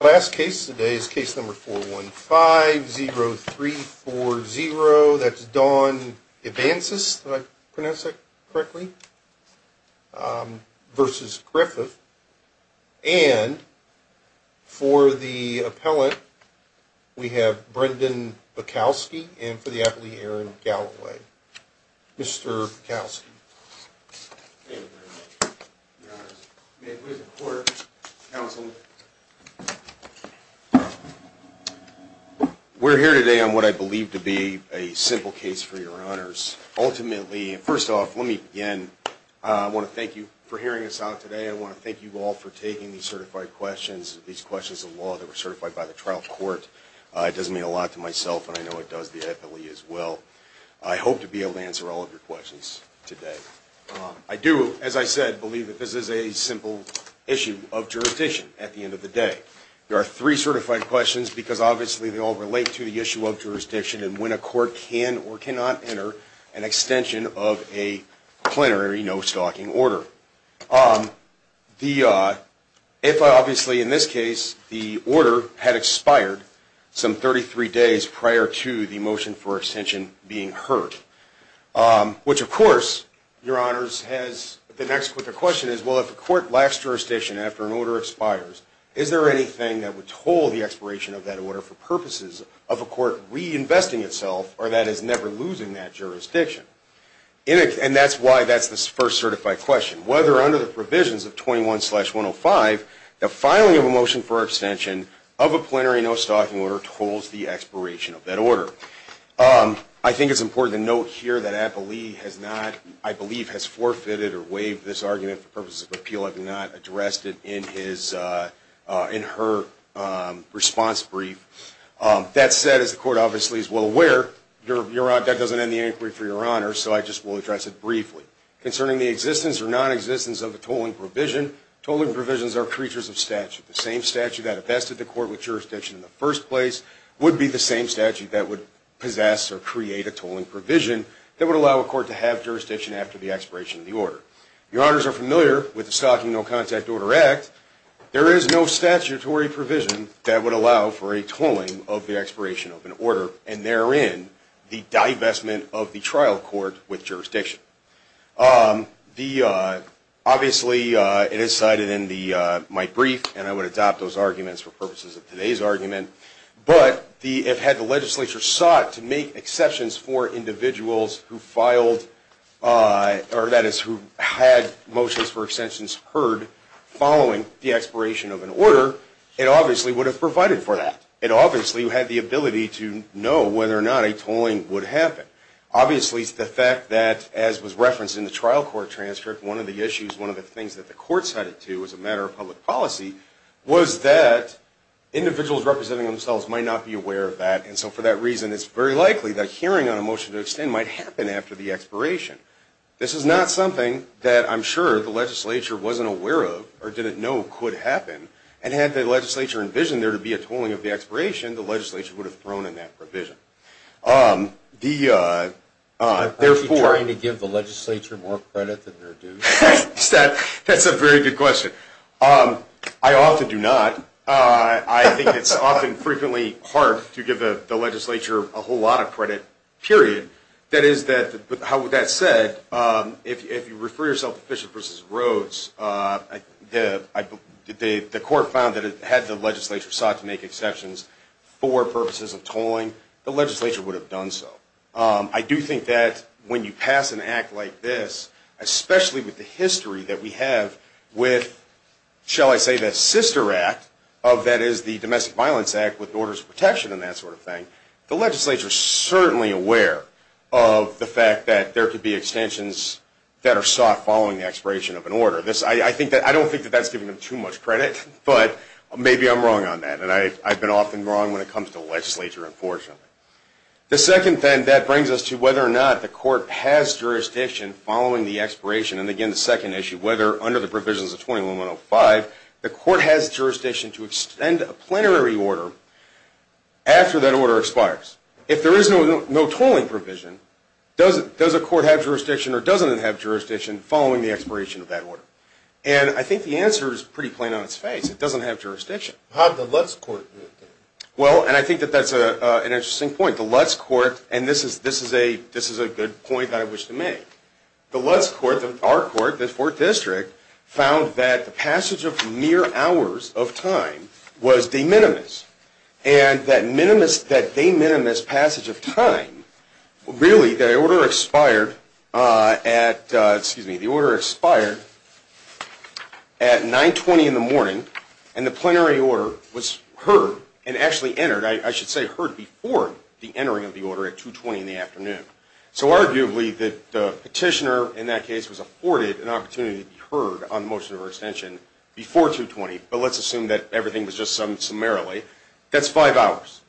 The last case today is case number 415-0340. That's Don Evancis, did I pronounce that correctly, versus Griffith. And for the appellant, we have Brendan Bukowski and for the appellee, Aaron Galloway. Mr. Bukowski. We're here today on what I believe to be a simple case for your honors. Ultimately, first off, let me begin, I want to thank you for hearing us out today. I want to thank you all for taking these certified questions, these questions of law that were certified by the trial court. It does mean a lot to myself and I know it does the appellee as well. I hope to be able to answer all of your questions today. I do, as I said, believe that this is a simple issue of jurisdiction at the end of the day. There are three certified questions because obviously they all relate to the issue of jurisdiction and when a court can or cannot enter an extension of a plenary no-stalking order. If obviously in this case the order had expired some 33 days prior to the motion for extension being heard, which of course, your honors, the next question is well if a court lacks jurisdiction after an order expires, is there anything that would toll the expiration of that order for purposes of a court reinvesting itself or that is never losing that jurisdiction? And that's why that's the first certified question. Whether under the provisions of 21-105, the filing of a motion for extension of a plenary no-stalking order tolls the expiration of that order. I think it's important to note here that Appellee has not, I believe, has forfeited or waived this argument for purposes of appeal. I have not addressed it in her response brief. That said, as the court obviously is well aware, that doesn't end the inquiry for your honors, so I just will address it briefly. Concerning the existence or non-existence of a tolling provision, tolling provisions are creatures of statute. The same statute that infested the court with jurisdiction in the first place would be the same statute that would possess or create a tolling provision that would allow a court to have jurisdiction after the expiration of the order. Your honors are familiar with the Stalking No-Contact Order Act. There is no statutory provision that would allow for a tolling of the expiration of an order, and therein, the divestment of the trial court with jurisdiction. Obviously, it is cited in my brief, and I would adopt those arguments for purposes of today's argument. But if the legislature sought to make exceptions for individuals who had motions for extensions heard following the expiration of an order, it obviously would have provided for that. It obviously had the ability to know whether or not a tolling would happen. Obviously, the fact that, as was referenced in the trial court transcript, one of the issues, one of the things that the court cited to as a matter of public policy was that individuals representing themselves might not be aware of that, and so for that reason, it's very likely that hearing on a motion to extend might happen after the expiration. This is not something that I'm sure the legislature wasn't aware of or didn't know could happen, and had the legislature envisioned there to be a tolling of the expiration, the legislature would have thrown in that provision. Are you trying to give the legislature more credit than they're due? That's a very good question. I often do not. I think it's often frequently hard to give the legislature a whole lot of credit, period. That is that, how would that set, if you refer yourself to Bishop v. Rhodes, the court found that it had the legislature sought to make exceptions for purposes of tolling. The legislature would have done so. I do think that when you pass an act like this, especially with the history that we have with, shall I say, the sister act of that is the Domestic Violence Act with orders of protection and that sort of thing, the legislature is certainly aware of the fact that there could be extensions that are sought following the expiration of an order. I don't think that that's giving them too much credit, but maybe I'm wrong on that, and I've been often wrong when it comes to the legislature, unfortunately. The second thing that brings us to whether or not the court has jurisdiction following the expiration, and again, the second issue, whether under the provisions of 21-105, the court has jurisdiction to extend a plenary order after that order expires. If there is no tolling provision, does a court have jurisdiction or doesn't it have jurisdiction following the expiration of that order? And I think the answer is pretty plain on its face. It doesn't have jurisdiction. How did the Lutz court do it, then? Well, and I think that that's an interesting point. The Lutz court, and this is a good point that I wish to make, the Lutz court, our court, the 4th District, found that the passage of mere hours of time was de minimis. And that de minimis passage of time, really, the order expired at 9.20 in the morning, and the plenary order was heard and actually entered, I should say heard before the entering of the order at 2.20 in the afternoon. So arguably, the petitioner in that case was afforded an opportunity to be heard on the motion of re-extension before 2.20, but let's assume that everything was just summed summarily. That's five hours.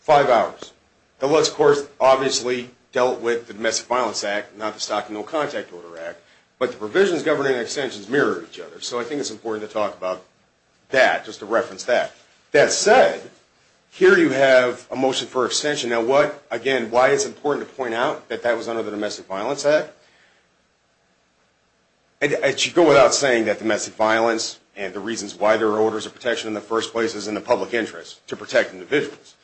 Five hours. The Lutz court obviously dealt with the Domestic Violence Act, not the Stock and No Contact Order Act, but the provisions governing extensions mirror each other. So I think it's important to talk about that, just to reference that. That said, here you have a motion for extension. Now what, again, why it's important to point out that that was under the Domestic Violence Act? I should go without saying that domestic violence and the reasons why there are orders of protection in the first place is in the public interest, to protect individuals.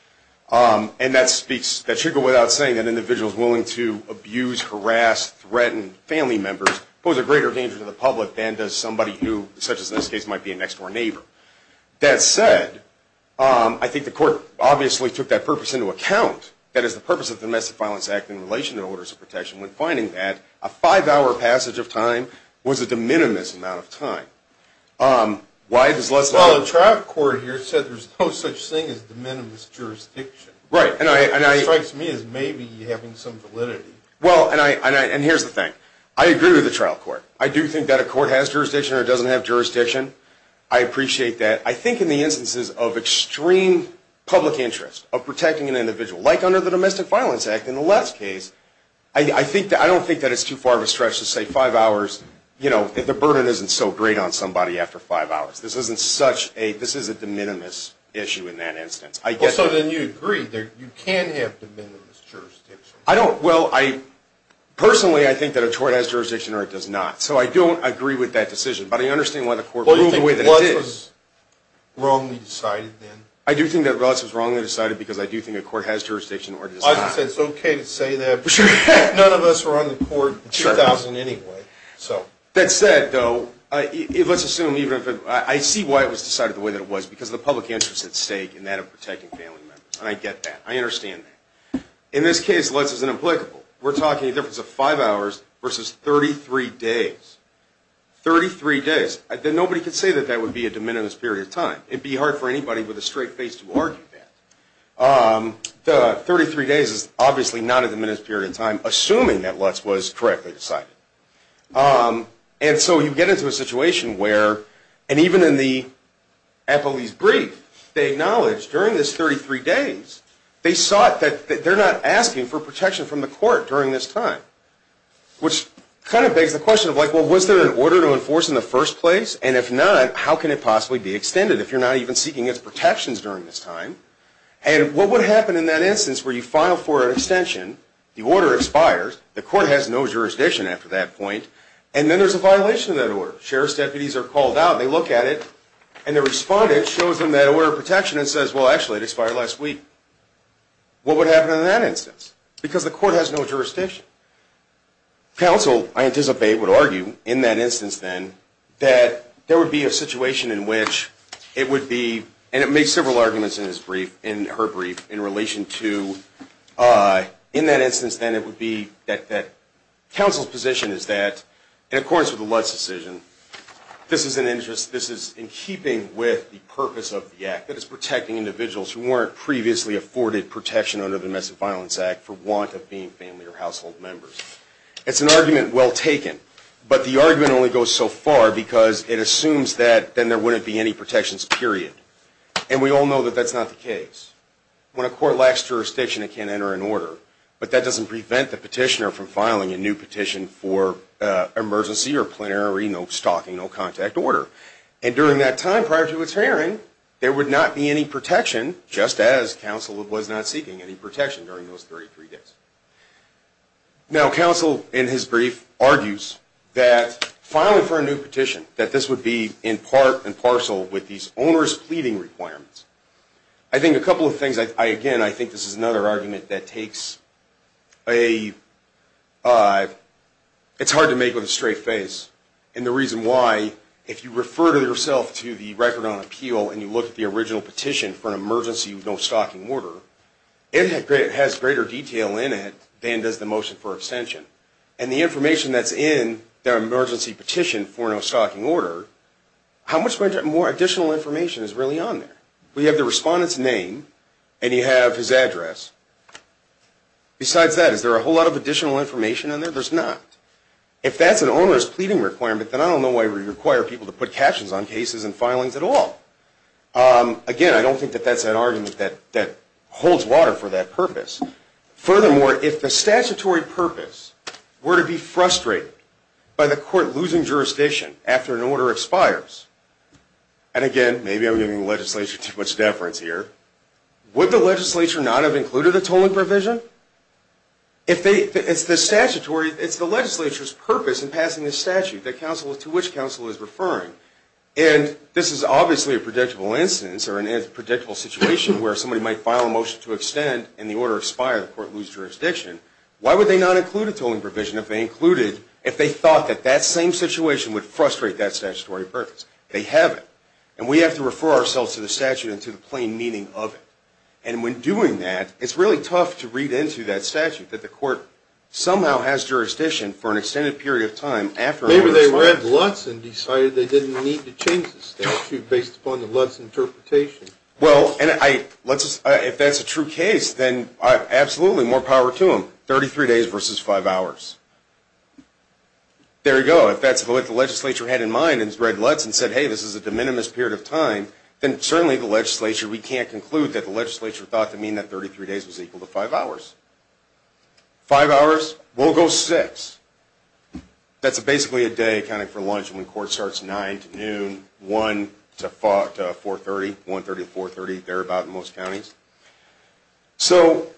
And that speaks, that should go without saying that individuals willing to abuse, harass, threaten family members pose a greater danger to the public than does somebody who, such as in this case, might be a next-door neighbor. That said, I think the court obviously took that purpose into account, that is the purpose of the Domestic Violence Act in relation to orders of protection, when finding that a five-hour passage of time was a de minimis amount of time. Well, the trial court here said there's no such thing as de minimis jurisdiction. It strikes me as maybe having some validity. Well, and here's the thing. I agree with the trial court. I do think that a court has jurisdiction or doesn't have jurisdiction. I appreciate that. I think in the instances of extreme public interest, of protecting an individual, like under the Domestic Violence Act in the last case, I don't think that it's too far of a stretch to say five hours, you know, if the burden isn't so great on somebody after five hours. This is a de minimis issue in that instance. So then you agree that you can have de minimis jurisdiction. I don't. Well, personally, I think that a court has jurisdiction or it does not. So I don't agree with that decision. Well, do you think Lutz was wrongly decided then? I do think that Lutz was wrongly decided because I do think a court has jurisdiction or it does not. I would say it's okay to say that. None of us were on the court in 2000 anyway. That said, though, let's assume even if it was. I see why it was decided the way that it was, because of the public interest at stake in that of protecting family members. And I get that. I understand that. In this case, Lutz is inapplicable. We're talking a difference of five hours versus 33 days. 33 days. Nobody could say that that would be a de minimis period of time. It would be hard for anybody with a straight face to argue that. The 33 days is obviously not a de minimis period of time, assuming that Lutz was correctly decided. And so you get into a situation where, and even in the appellee's brief, they acknowledge during this 33 days, they saw that they're not asking for protection from the court during this time, which kind of begs the question of, well, was there an order to enforce in the first place? And if not, how can it possibly be extended if you're not even seeking its protections during this time? And what would happen in that instance where you file for an extension, the order expires, the court has no jurisdiction after that point, and then there's a violation of that order. Sheriff's deputies are called out, they look at it, and the respondent shows them that order of protection and says, well, actually, it expired last week. What would happen in that instance? Because the court has no jurisdiction. Counsel, I anticipate, would argue in that instance then that there would be a situation in which it would be, and it makes several arguments in her brief, in relation to, in that instance then, it would be that counsel's position is that, in accordance with the Lutz decision, this is in keeping with the purpose of the act, that it's protecting individuals who weren't previously afforded protection under the Domestic Violence Act for want of being family or household members. It's an argument well taken, but the argument only goes so far because it assumes that then there wouldn't be any protections, period. And we all know that that's not the case. When a court lacks jurisdiction, it can't enter an order, but that doesn't prevent the petitioner from filing a new petition for emergency or plenary, no stalking, no contact order. And during that time, prior to its hearing, there would not be any protection, just as counsel was not seeking any protection during those 33 days. Now, counsel, in his brief, argues that filing for a new petition, that this would be in part and parcel with these owner's pleading requirements. I think a couple of things, again, I think this is another argument that takes a, it's hard to make with a straight face, and the reason why, if you refer to yourself to the Record on Appeal and you look at the original petition for an emergency no stalking order, it has greater detail in it than does the motion for extension. And the information that's in the emergency petition for no stalking order, how much more additional information is really on there? We have the respondent's name, and you have his address. Besides that, is there a whole lot of additional information on there? There's not. If that's an owner's pleading requirement, then I don't know why we require people to put captions on cases and filings at all. Again, I don't think that that's an argument that holds water for that purpose. Furthermore, if the statutory purpose were to be frustrated by the court losing jurisdiction after an order expires, and again, maybe I'm giving the legislature too much deference here, would the legislature not have included a tolling provision? It's the legislature's purpose in passing this statute to which counsel is referring. And this is obviously a predictable instance or a predictable situation where somebody might file a motion to extend and the order expire, the court loses jurisdiction. Why would they not include a tolling provision if they thought that that same situation would frustrate that statutory purpose? They haven't. And we have to refer ourselves to the statute and to the plain meaning of it. And when doing that, it's really tough to read into that statute that the court somehow has jurisdiction for an extended period of time after an order expires. Maybe they read Lutz and decided they didn't need to change the statute based upon the Lutz interpretation. Well, if that's a true case, then absolutely, more power to them. Thirty-three days versus five hours. There you go. If that's what the legislature had in mind and read Lutz and said, hey, this is a de minimis period of time, then certainly the legislature, we can't conclude that the legislature thought to mean that 33 days was equal to five hours. Five hours? We'll go six. That's basically a day accounting for lunch when the court starts 9 to noon, 1 to 4.30, 1.30 to 4.30, thereabout in most counties. So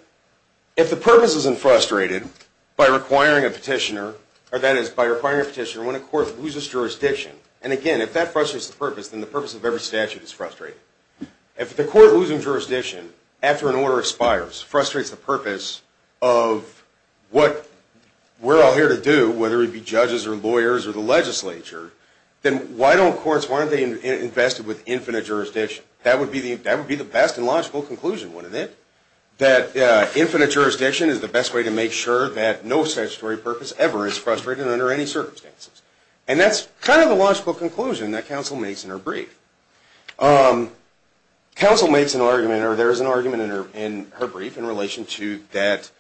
if the purpose isn't frustrated by requiring a petitioner, or that is by requiring a petitioner when a court loses jurisdiction, and again, if that frustrates the purpose, then the purpose of every statute is frustrating. If the court losing jurisdiction after an order expires frustrates the purpose of what we're all here to do, whether it be judges or lawyers or the legislature, then why don't courts, why aren't they invested with infinite jurisdiction? That would be the best and logical conclusion, wouldn't it? That infinite jurisdiction is the best way to make sure that no statutory purpose ever is frustrated under any circumstances. And that's kind of the logical conclusion that counsel makes in her brief. Counsel makes an argument, or there is an argument in her brief, in relation to that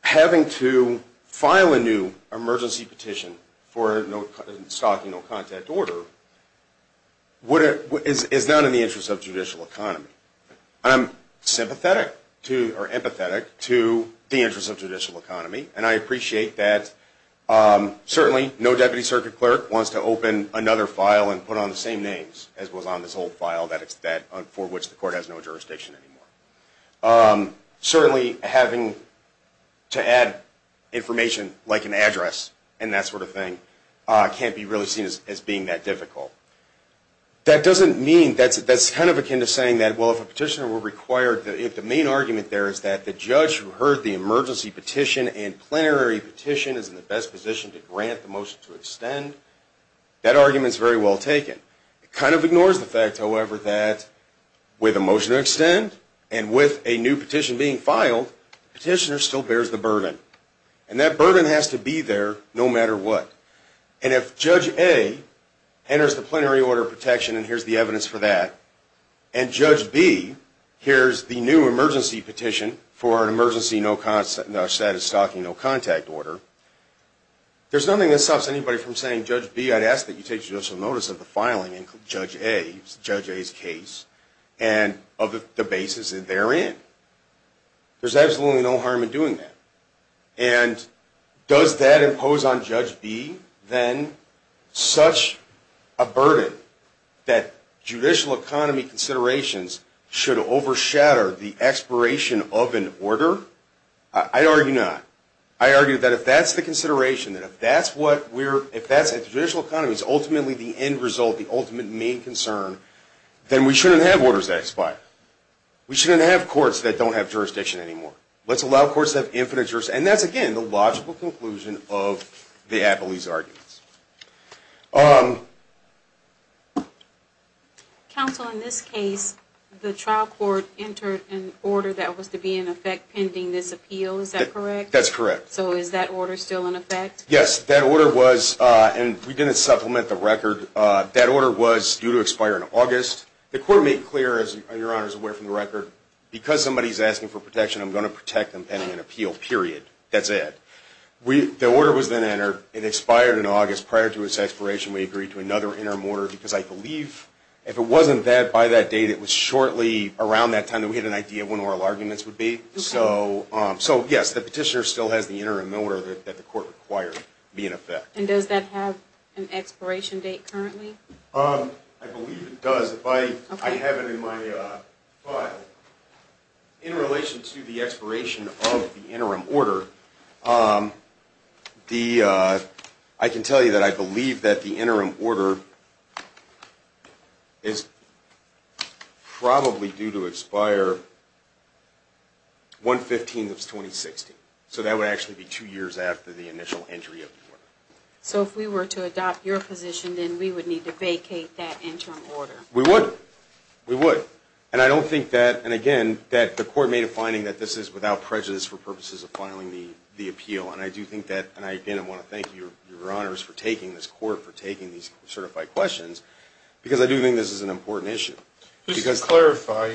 having to file a new emergency petition for a stocking no-contact order is not in the interest of judicial economy. I'm sympathetic to, or empathetic to, the interest of judicial economy, and I appreciate that certainly no deputy circuit clerk wants to open another file and put on the same names as was on this old file for which the court has no jurisdiction anymore. Certainly having to add information like an address and that sort of thing can't be really seen as being that difficult. That doesn't mean, that's kind of akin to saying that, well, if a petitioner were required, if the main argument there is that the judge who heard the emergency petition and plenary petition is in the best position to grant the motion to extend, that argument is very well taken. It kind of ignores the fact, however, that with a motion to extend and with a new petition being filed, the petitioner still bears the burden. And that burden has to be there no matter what. And if Judge A enters the plenary order of protection, and here's the evidence for that, and Judge B hears the new emergency petition for an emergency status stocking no contact order, there's nothing that stops anybody from saying, Judge B, I'd ask that you take judicial notice of the filing in Judge A's case and of the basis that they're in. There's absolutely no harm in doing that. And does that impose on Judge B, then, such a burden that judicial economy considerations should overshadow the expiration of an order? I argue not. I argue that if that's the consideration, that if that's what we're, if that's the judicial economy's ultimately the end result, the ultimate main concern, then we shouldn't have orders that expire. We shouldn't have courts that don't have jurisdiction anymore. Let's allow courts that have infinite jurisdiction. And that's, again, the logical conclusion of the Attlee's arguments. Counsel, in this case, the trial court entered an order that was to be in effect pending this appeal. Is that correct? That's correct. So is that order still in effect? Yes. That order was, and we didn't supplement the record, that order was due to expire in August. The court made clear, as your Honor is aware from the record, because somebody's asking for protection, I'm going to protect them pending an appeal, period. That's it. The order was then entered. It expired in August. Prior to its expiration, we agreed to another interim order because I believe, if it wasn't by that date, it was shortly around that time that we had an idea of when oral arguments would be. So, yes, the petitioner still has the interim order that the court required to be in effect. And does that have an expiration date currently? I believe it does. Because if I have it in my file, in relation to the expiration of the interim order, I can tell you that I believe that the interim order is probably due to expire 1-15-2016. So that would actually be two years after the initial entry of the order. So if we were to adopt your position, then we would need to vacate that interim order? We would. We would. And I don't think that, and again, that the court made a finding that this is without prejudice for purposes of filing the appeal. And I do think that, and again, I want to thank your Honors for taking this court, for taking these certified questions, because I do think this is an important issue. Just to clarify,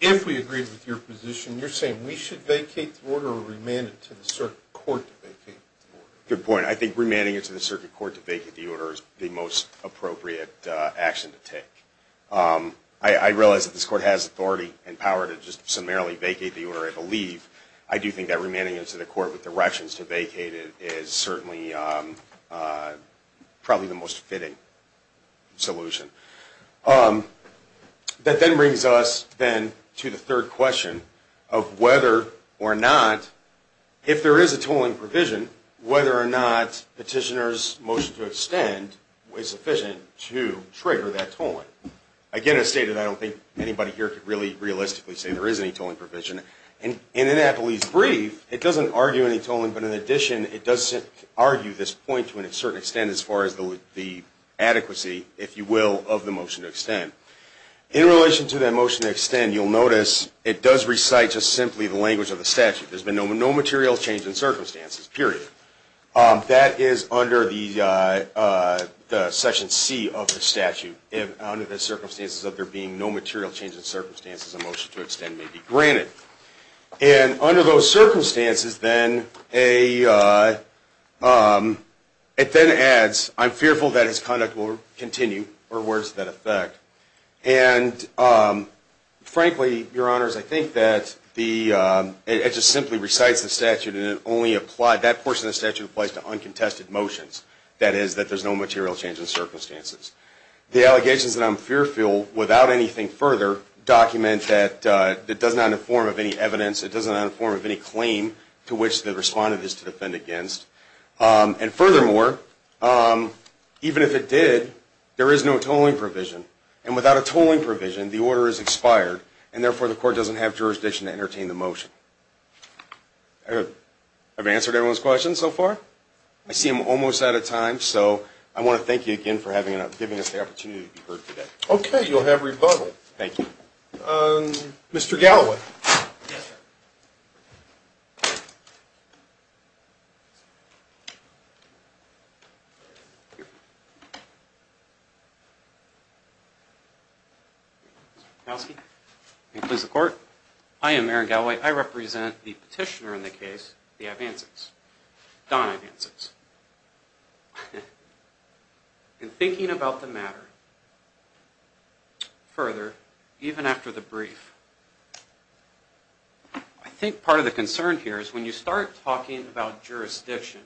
if we agreed with your position, you're saying we should vacate the order or remand it to the circuit court to vacate the order? Good point. I think remanding it to the circuit court to vacate the order is the most appropriate action to take. I realize that this court has authority and power to just summarily vacate the order, I believe. I do think that remanding it to the court with directions to vacate it is certainly probably the most fitting solution. That then brings us, then, to the third question of whether or not, if there is a tolling provision, whether or not petitioner's motion to extend was sufficient to trigger that tolling. Again, as stated, I don't think anybody here could really realistically say there is any tolling provision. In Annapolis brief, it doesn't argue any tolling, but in addition, it does argue this point to a certain extent as far as the adequacy, if you will, of the motion to extend. In relation to that motion to extend, you'll notice it does recite just simply the language of the statute. There's been no material change in circumstances, period. That is under the section C of the statute. Under the circumstances of there being no material change in circumstances, a motion to extend may be granted. Under those circumstances, then, it then adds, I'm fearful that his conduct will continue, or words to that effect. Frankly, your honors, I think that it just simply recites the statute, and that portion of the statute applies to uncontested motions. That is, that there's no material change in circumstances. The allegations that I'm fearful, without anything further, document that it does not inform of any evidence, it does not inform of any claim to which the respondent is to defend against. And furthermore, even if it did, there is no tolling provision. And without a tolling provision, the order is expired, and therefore the court doesn't have jurisdiction to entertain the motion. Have I answered everyone's questions so far? I see I'm almost out of time. So I want to thank you again for giving us the opportunity to be heard today. Okay, you'll have rebuttal. Thank you. Mr. Galloway. Yes, sir. May it please the court. I am Aaron Galloway. I represent the petitioner in the case, the Advances, Don Advances. In thinking about the matter further, even after the brief, I think part of the concern here is when you start talking about jurisdiction,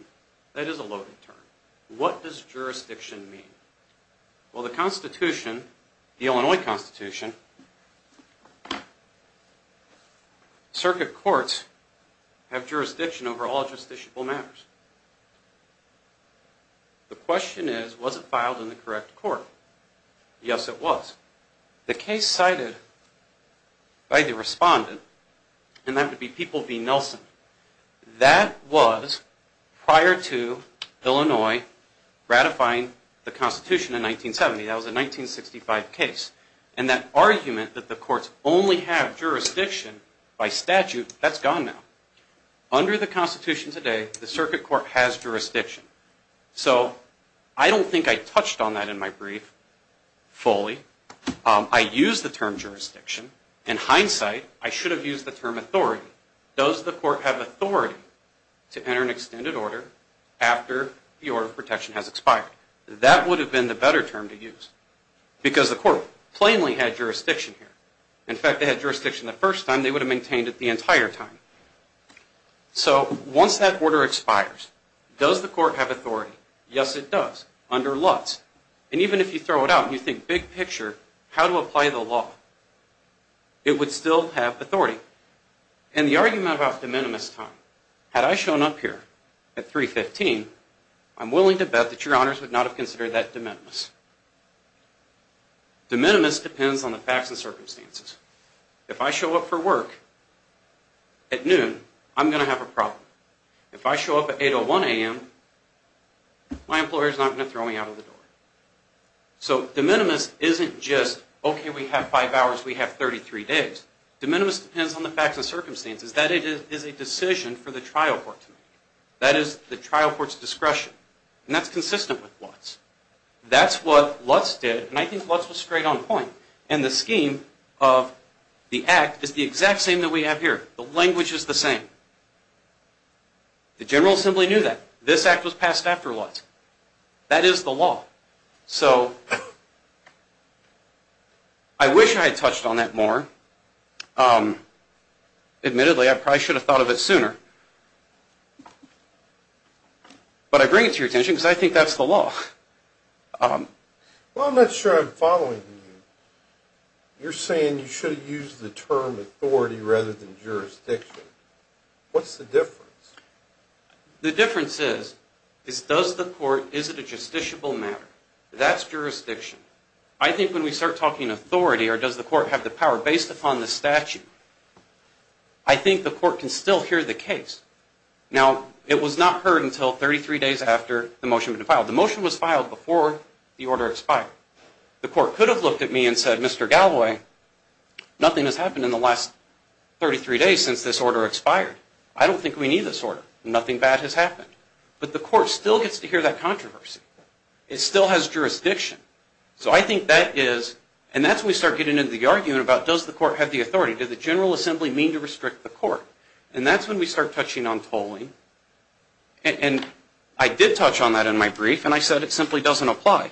that is a loaded term. What does jurisdiction mean? Well, the Constitution, the Illinois Constitution, circuit courts have jurisdiction over all justiciable matters. The question is, was it filed in the correct court? Yes, it was. The case cited by the respondent, and that would be People v. Nelson, that was prior to Illinois ratifying the Constitution in 1970. That was a 1965 case. And that argument that the courts only have jurisdiction by statute, that's gone now. Under the Constitution today, the circuit court has jurisdiction. So I don't think I touched on that in my brief fully. I used the term jurisdiction. In hindsight, I should have used the term authority. Does the court have authority to enter an extended order after the order of protection has expired? That would have been the better term to use, because the court plainly had jurisdiction here. In fact, they had jurisdiction the first time. They would have maintained it the entire time. So once that order expires, does the court have authority? Yes, it does, under Lutz. And even if you throw it out and you think big picture how to apply the law, it would still have authority. So in the argument about de minimis time, had I shown up here at 3.15, I'm willing to bet that Your Honors would not have considered that de minimis. De minimis depends on the facts and circumstances. If I show up for work at noon, I'm going to have a problem. If I show up at 8.01 a.m., my employer is not going to throw me out of the door. So de minimis isn't just, okay, we have five hours, we have 33 days. De minimis depends on the facts and circumstances. That is a decision for the trial court to make. That is the trial court's discretion. And that's consistent with Lutz. That's what Lutz did, and I think Lutz was straight on point. And the scheme of the act is the exact same that we have here. The language is the same. The General Assembly knew that. This act was passed after Lutz. That is the law. So I wish I had touched on that more. Admittedly, I probably should have thought of it sooner. But I bring it to your attention because I think that's the law. Well, I'm not sure I'm following you. You're saying you should have used the term authority rather than jurisdiction. What's the difference? The difference is, is does the court, is it a justiciable matter? That's jurisdiction. I think when we start talking authority, or does the court have the power, based upon the statute, I think the court can still hear the case. Now, it was not heard until 33 days after the motion was filed. The motion was filed before the order expired. The court could have looked at me and said, Mr. Galloway, nothing has happened in the last 33 days since this order expired. I don't think we need this order. Nothing bad has happened. But the court still gets to hear that controversy. It still has jurisdiction. So I think that is, and that's when we start getting into the argument about does the court have the authority? Does the General Assembly mean to restrict the court? And that's when we start touching on tolling. And I did touch on that in my brief, and I said it simply doesn't apply.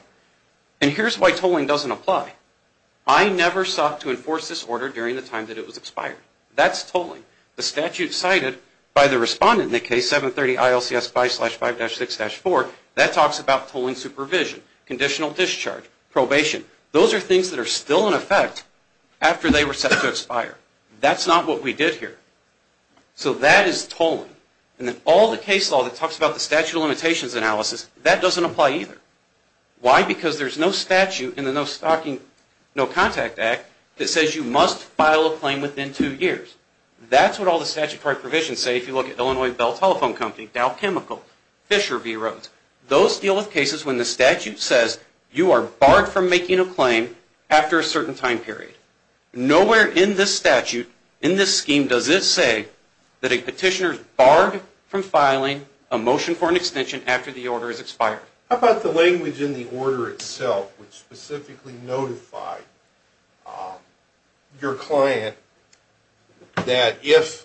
And here's why tolling doesn't apply. I never sought to enforce this order during the time that it was expired. That's tolling. The statute cited by the respondent in the case 730 ILCS 5-5-6-4, that talks about tolling supervision, conditional discharge, probation. Those are things that are still in effect after they were set to expire. That's not what we did here. So that is tolling. And all the case law that talks about the statute of limitations analysis, that doesn't apply either. Why? Because there's no statute in the No Stalking No Contact Act that says you must file a claim within two years. That's what all the statutory provisions say. If you look at Illinois Bell Telephone Company, Dow Chemical, Fisher v. Rhodes, those deal with cases when the statute says you are barred from making a claim after a certain time period. Nowhere in this statute, in this scheme, does it say that a petitioner is barred from filing a motion for an extension after the order is expired. How about the language in the order itself, which specifically notified your client that if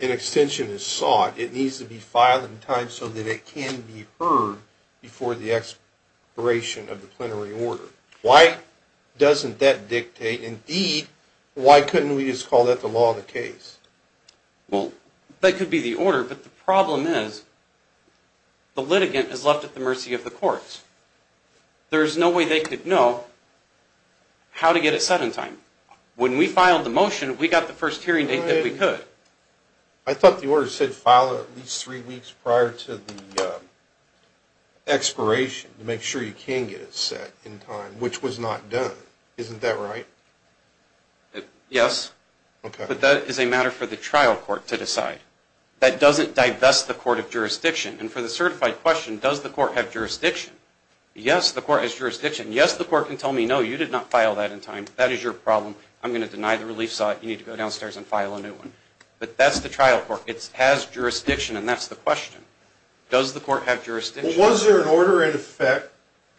an extension is sought, it needs to be filed in time so that it can be heard before the expiration of the plenary order? Why doesn't that dictate? Indeed, why couldn't we just call that the law of the case? Well, that could be the order. But the problem is the litigant is left at the mercy of the courts. There's no way they could know how to get it set in time. When we filed the motion, we got the first hearing date that we could. I thought the order said file it at least three weeks prior to the expiration to make sure you can get it set in time, which was not done. Isn't that right? Yes. Okay. But that is a matter for the trial court to decide. That doesn't divest the court of jurisdiction. And for the certified question, does the court have jurisdiction? Yes, the court has jurisdiction. Yes, the court can tell me, no, you did not file that in time. That is your problem. I'm going to deny the relief site. You need to go downstairs and file a new one. But that's the trial court. It has jurisdiction, and that's the question. Does the court have jurisdiction? Well, was there an order in effect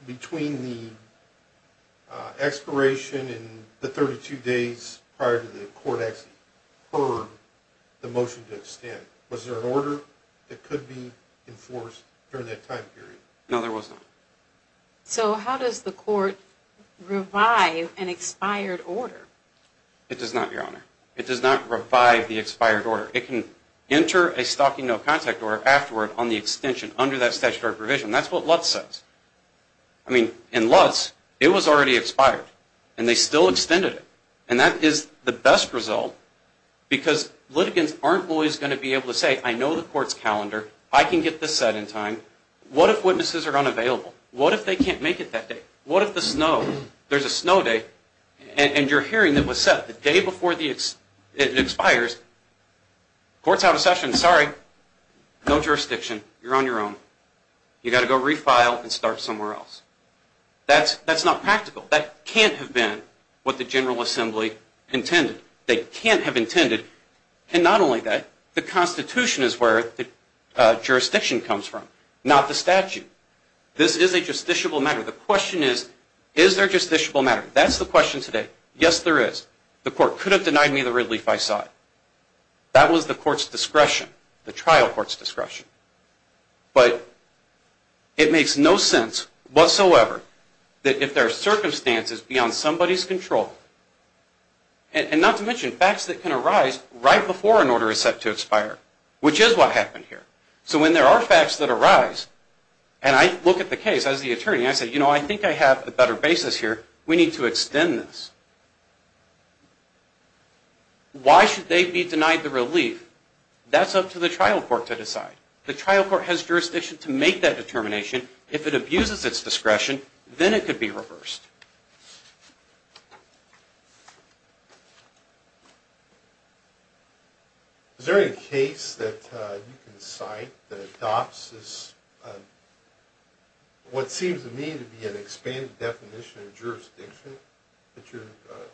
between the expiration and the 32 days prior to the court actually heard the motion to extend? Was there an order that could be enforced during that time period? No, there was not. So how does the court revive an expired order? It does not, Your Honor. It does not revive the expired order. It can enter a stalking no contact order afterward on the extension under that statutory provision. That's what Lutz says. I mean, in Lutz, it was already expired, and they still extended it. And that is the best result, because litigants aren't always going to be able to say, I know the court's calendar. I can get this set in time. What if witnesses are unavailable? What if they can't make it that day? What if the snow, there's a snow day, and you're hearing it was set the day before it expires. Court's out of session. Sorry. No jurisdiction. You're on your own. You've got to go refile and start somewhere else. That's not practical. That can't have been what the General Assembly intended. They can't have intended. And not only that, the Constitution is where the jurisdiction comes from, not the statute. This is a justiciable matter. The question is, is there a justiciable matter? That's the question today. Yes, there is. The court could have denied me the relief I sought. That was the court's discretion, the trial court's discretion. But it makes no sense whatsoever that if there are circumstances beyond somebody's control, and not to mention facts that can arise right before an order is set to expire, which is what happened here. So when there are facts that arise, and I look at the case as the attorney, I say, you know, I think I have a better basis here. We need to extend this. Why should they be denied the relief? That's up to the trial court to decide. The trial court has jurisdiction to make that determination. If it abuses its discretion, then it could be reversed. Is there any case that you can cite that adopts what seems to me to be an expanded definition of jurisdiction that you're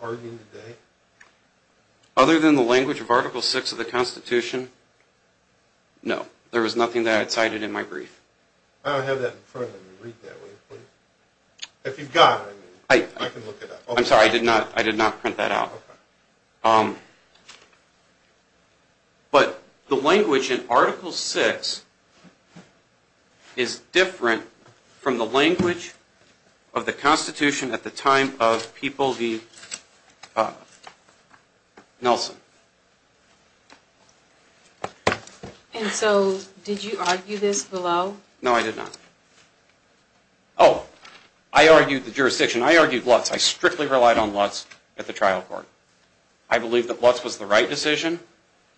arguing today? Other than the language of Article VI of the Constitution, no. There was nothing that I had cited in my brief. I don't have that in front of me. Read that, would you please? If you've got it, I can look it up. I'm sorry. I did not print that out. Okay. But the language in Article VI is different from the language of the And so did you argue this below? No, I did not. Oh, I argued the jurisdiction. I argued Lutz. I strictly relied on Lutz at the trial court. I believe that Lutz was the right decision.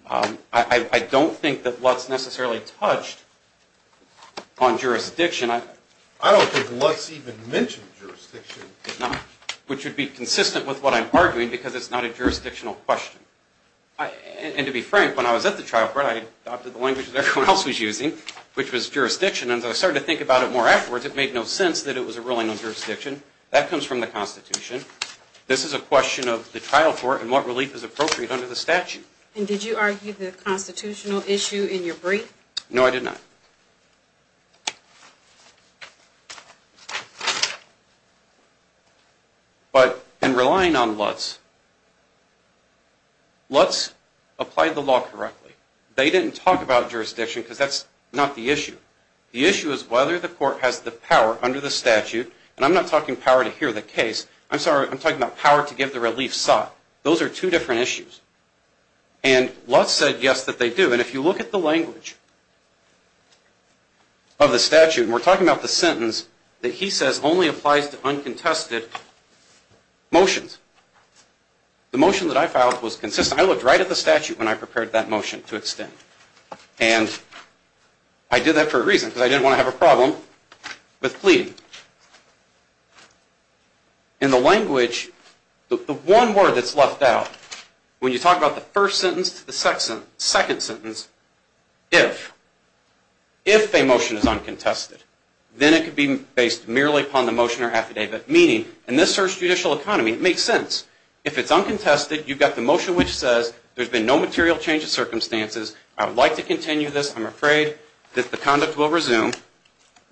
I don't think that Lutz necessarily touched on jurisdiction. I don't think Lutz even mentioned jurisdiction. Which would be consistent with what I'm arguing because it's not a jurisdictional question. And to be frank, when I was at the trial court, I adopted the language that everyone else was using, which was jurisdiction. And as I started to think about it more afterwards, it made no sense that it was a ruling on jurisdiction. That comes from the Constitution. This is a question of the trial court and what relief is appropriate under the statute. And did you argue the constitutional issue in your brief? No, I did not. But in relying on Lutz, Lutz applied the law correctly. They didn't talk about jurisdiction because that's not the issue. The issue is whether the court has the power under the statute. And I'm not talking power to hear the case. I'm sorry. I'm talking about power to give the relief sought. Those are two different issues. And Lutz said yes that they do. And if you look at the language of the statute, and we're talking about the sentence that he says only applies to uncontested motions, the motion that I filed was consistent. I looked right at the statute when I prepared that motion to extend. And I did that for a reason because I didn't want to have a problem with pleading. In the language, the one word that's left out when you talk about the first sentence to the second sentence, if, if a motion is uncontested, then it could be based merely upon the motion or affidavit. Meaning, in this judicial economy, it makes sense. If it's uncontested, you've got the motion which says there's been no material change of circumstances. I would like to continue this. I'm afraid that the conduct will resume.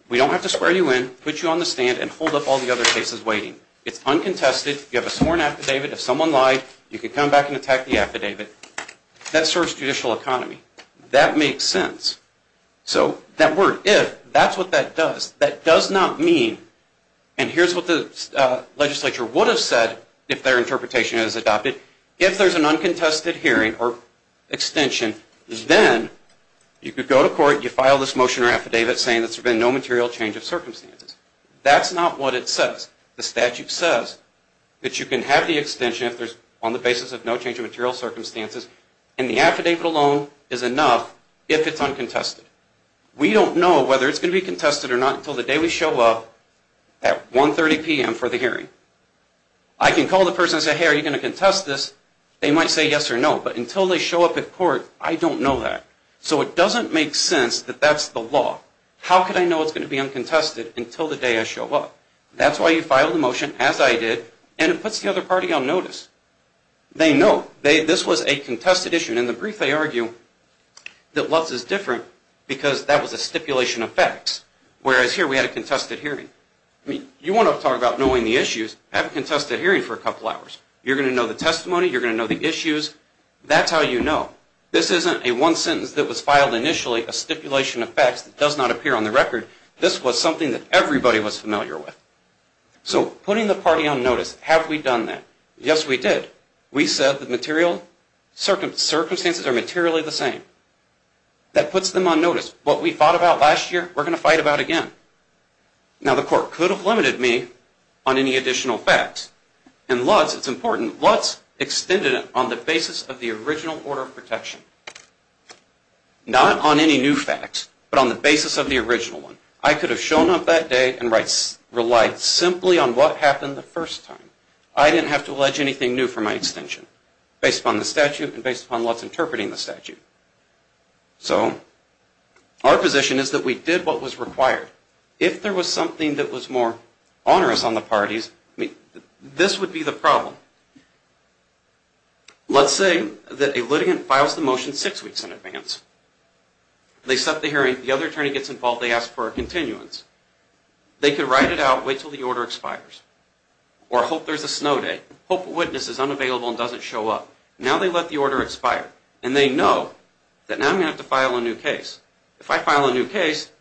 We don't have to square you in, put you on the stand, and hold up all the other cases waiting. It's uncontested. You have a sworn affidavit. If someone lied, you could come back and attack the affidavit. That's sort of judicial economy. That makes sense. So that word, if, that's what that does. That does not mean, and here's what the legislature would have said if their interpretation is adopted, if there's an uncontested hearing or extension, then you could go to court, you file this motion or affidavit saying there's been no material change of circumstances. That's not what it says. The statute says that you can have the extension on the basis of no change of material circumstances, and the affidavit alone is enough if it's uncontested. We don't know whether it's going to be contested or not until the day we show up at 1.30 p.m. for the hearing. I can call the person and say, hey, are you going to contest this? They might say yes or no. But until they show up at court, I don't know that. So it doesn't make sense that that's the law. How could I know it's going to be uncontested until the day I show up? That's why you file the motion, as I did, and it puts the other party on notice. They know. This was a contested issue, and in the brief they argue that Lutz is different because that was a stipulation of facts, whereas here we had a contested hearing. You want to talk about knowing the issues, have a contested hearing for a couple hours. You're going to know the testimony. You're going to know the issues. That's how you know. This isn't a one sentence that was filed initially, a stipulation of facts that does not appear on the record. This was something that everybody was familiar with. So putting the party on notice, have we done that? Yes, we did. We said the material circumstances are materially the same. That puts them on notice. What we fought about last year, we're going to fight about again. Now, the court could have limited me on any additional facts. In Lutz, it's important, Lutz extended it on the basis of the original order of protection. Not on any new facts, but on the basis of the original one. I could have shown up that day and relied simply on what happened the first time. I didn't have to allege anything new for my extension based upon the statute and based upon Lutz interpreting the statute. So our position is that we did what was required. If there was something that was more onerous on the parties, this would be the problem. Let's say that a litigant files the motion six weeks in advance. They set the hearing. The other attorney gets involved. They ask for a continuance. They could write it out, wait until the order expires, or hope there's a snow day, hope a witness is unavailable and doesn't show up. Now they let the order expire. And they know that now I'm going to have to file a new case. If I file a new case,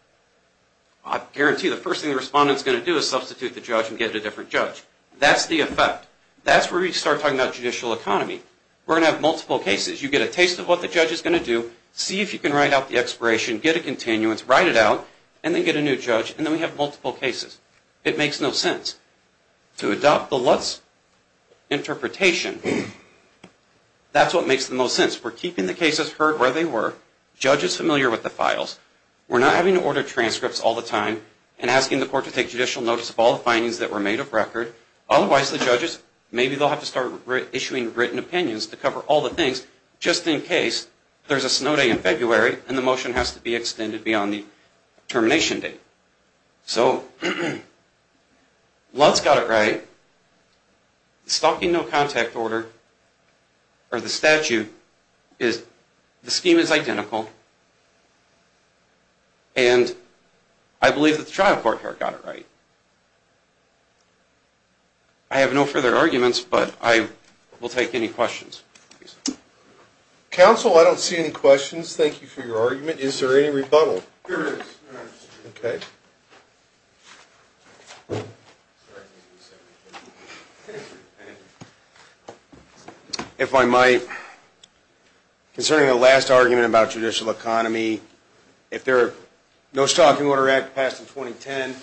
I guarantee the first thing the respondent is going to do is substitute the judge and get a different judge. That's the effect. That's where we start talking about judicial economy. We're going to have multiple cases. You get a taste of what the judge is going to do, see if you can write out the expiration, get a continuance, write it out, and then get a new judge, and then we have multiple cases. It makes no sense. To adopt the Lutz interpretation, that's what makes the most sense. We're keeping the cases where they were, judges familiar with the files. We're not having to order transcripts all the time and asking the court to take judicial notice of all the findings that were made of record. Otherwise, the judges, maybe they'll have to start issuing written opinions to cover all the things just in case there's a snow day in February and the motion has to be extended beyond the termination date. So Lutz got it right. Stalking no contact order or the statute is the scheme is identical. And I believe that the trial court here got it right. I have no further arguments, but I will take any questions. Counsel, I don't see any questions. Thank you for your argument. Is there any rebuttal? There is. Okay. Thank you. If I might, concerning the last argument about judicial economy, if the No Stalking Order Act passed in 2010,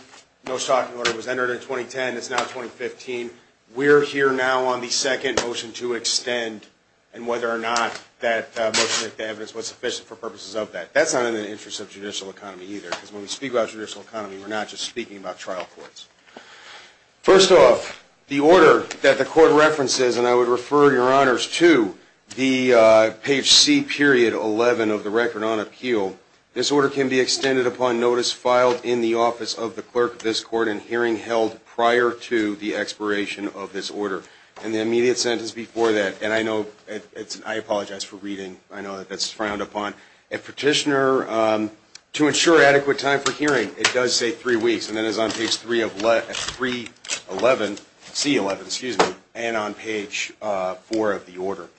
no stalking order was entered in 2010, it's now 2015, we're here now on the second motion to extend, and whether or not that motion with the evidence was sufficient for purposes of that. That's not in the interest of judicial economy either, because when we speak about judicial economy, we're not just speaking about trial courts. First off, the order that the court references, and I would refer your honors to the page C period 11 of the record on appeal, this order can be extended upon notice filed in the office of the clerk of this court and hearing held prior to the expiration of this order. And the immediate sentence before that, and I apologize for reading. I know that that's frowned upon. A petitioner, to ensure adequate time for hearing, it does say three weeks, and that is on page C11 and on page 4 of the order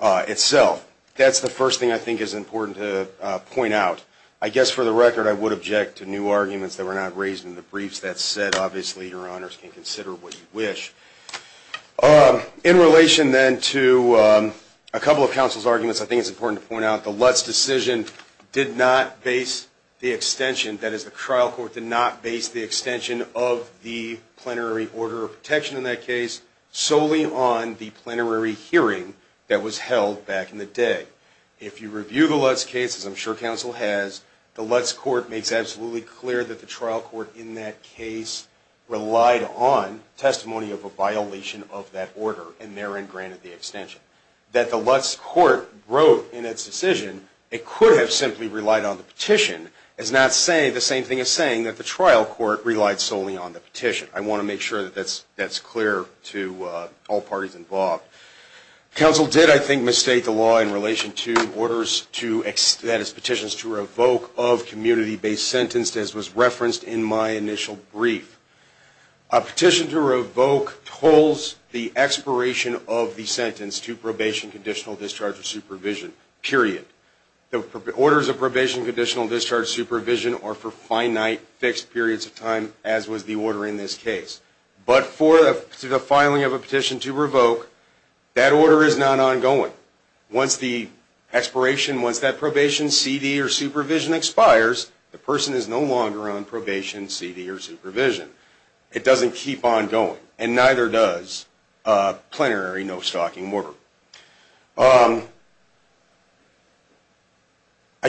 itself. That's the first thing I think is important to point out. I guess for the record, I would object to new arguments that were not raised in the briefs. That said, obviously your honors can consider what you wish. In relation then to a couple of counsel's arguments, I think it's important to point out the Lutz decision did not base the extension, that is the trial court did not base the extension of the plenary order of protection in that case, solely on the plenary hearing that was held back in the day. If you review the Lutz case, as I'm sure counsel has, the Lutz court makes absolutely clear that the trial court in that case relied on testimony of a violation of that order, and therein granted the extension. That said, that the Lutz court wrote in its decision, it could have simply relied on the petition. It's not saying the same thing as saying that the trial court relied solely on the petition. I want to make sure that that's clear to all parties involved. Counsel did, I think, mistake the law in relation to orders to, that is petitions to revoke of community-based sentence as was referenced in my initial brief. A petition to revoke holds the expiration of the sentence to probation, conditional discharge, or supervision, period. The orders of probation, conditional discharge, supervision are for finite, fixed periods of time, as was the order in this case. But for the filing of a petition to revoke, that order is not ongoing. Once the expiration, once that probation, CD, or supervision expires, the person is no longer on probation, CD, or supervision. It doesn't keep on going, and neither does a plenary no-stalking order. I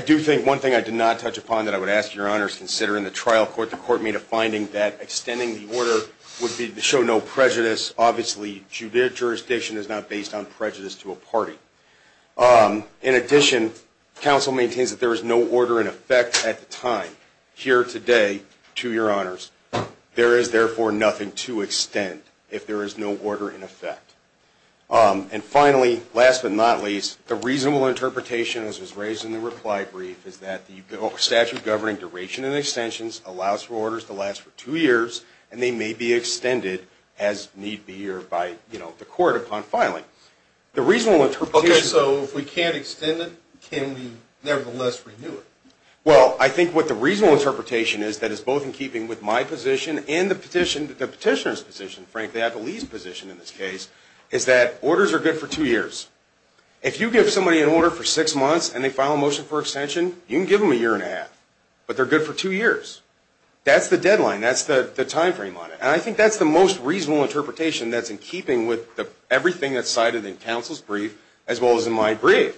do think one thing I did not touch upon that I would ask your honors to consider in the trial court, the court made a finding that extending the order would show no prejudice. Obviously, jurisdiction is not based on prejudice to a party. In addition, counsel maintains that there is no order in effect at the time, here today, to your honors. There is, therefore, nothing to extend if there is no order in effect. And finally, last but not least, the reasonable interpretation, as was raised in the reply brief, is that the statute governing duration and extensions allows for orders to last for two years, and they may be extended, as need be, or by the court upon filing. Okay, so if we can't extend it, can we nevertheless renew it? Well, I think what the reasonable interpretation is, that is both in keeping with my position and the petitioner's position, frankly, I believe, position in this case, is that orders are good for two years. If you give somebody an order for six months, and they file a motion for extension, you can give them a year and a half. But they're good for two years. That's the deadline. That's the time frame on it. And I think that's the most reasonable interpretation that's in keeping with everything that's cited in counsel's brief, as well as in my brief.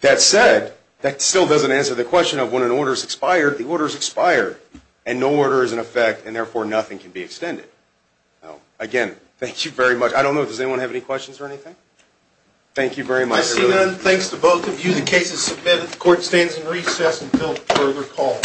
That said, that still doesn't answer the question of when an order is expired, the order is expired, and no order is in effect, and therefore nothing can be extended. Again, thank you very much. I don't know, does anyone have any questions or anything? Thank you very much. I see none. Thanks to both of you. The case is submitted. The court stands in recess until further call.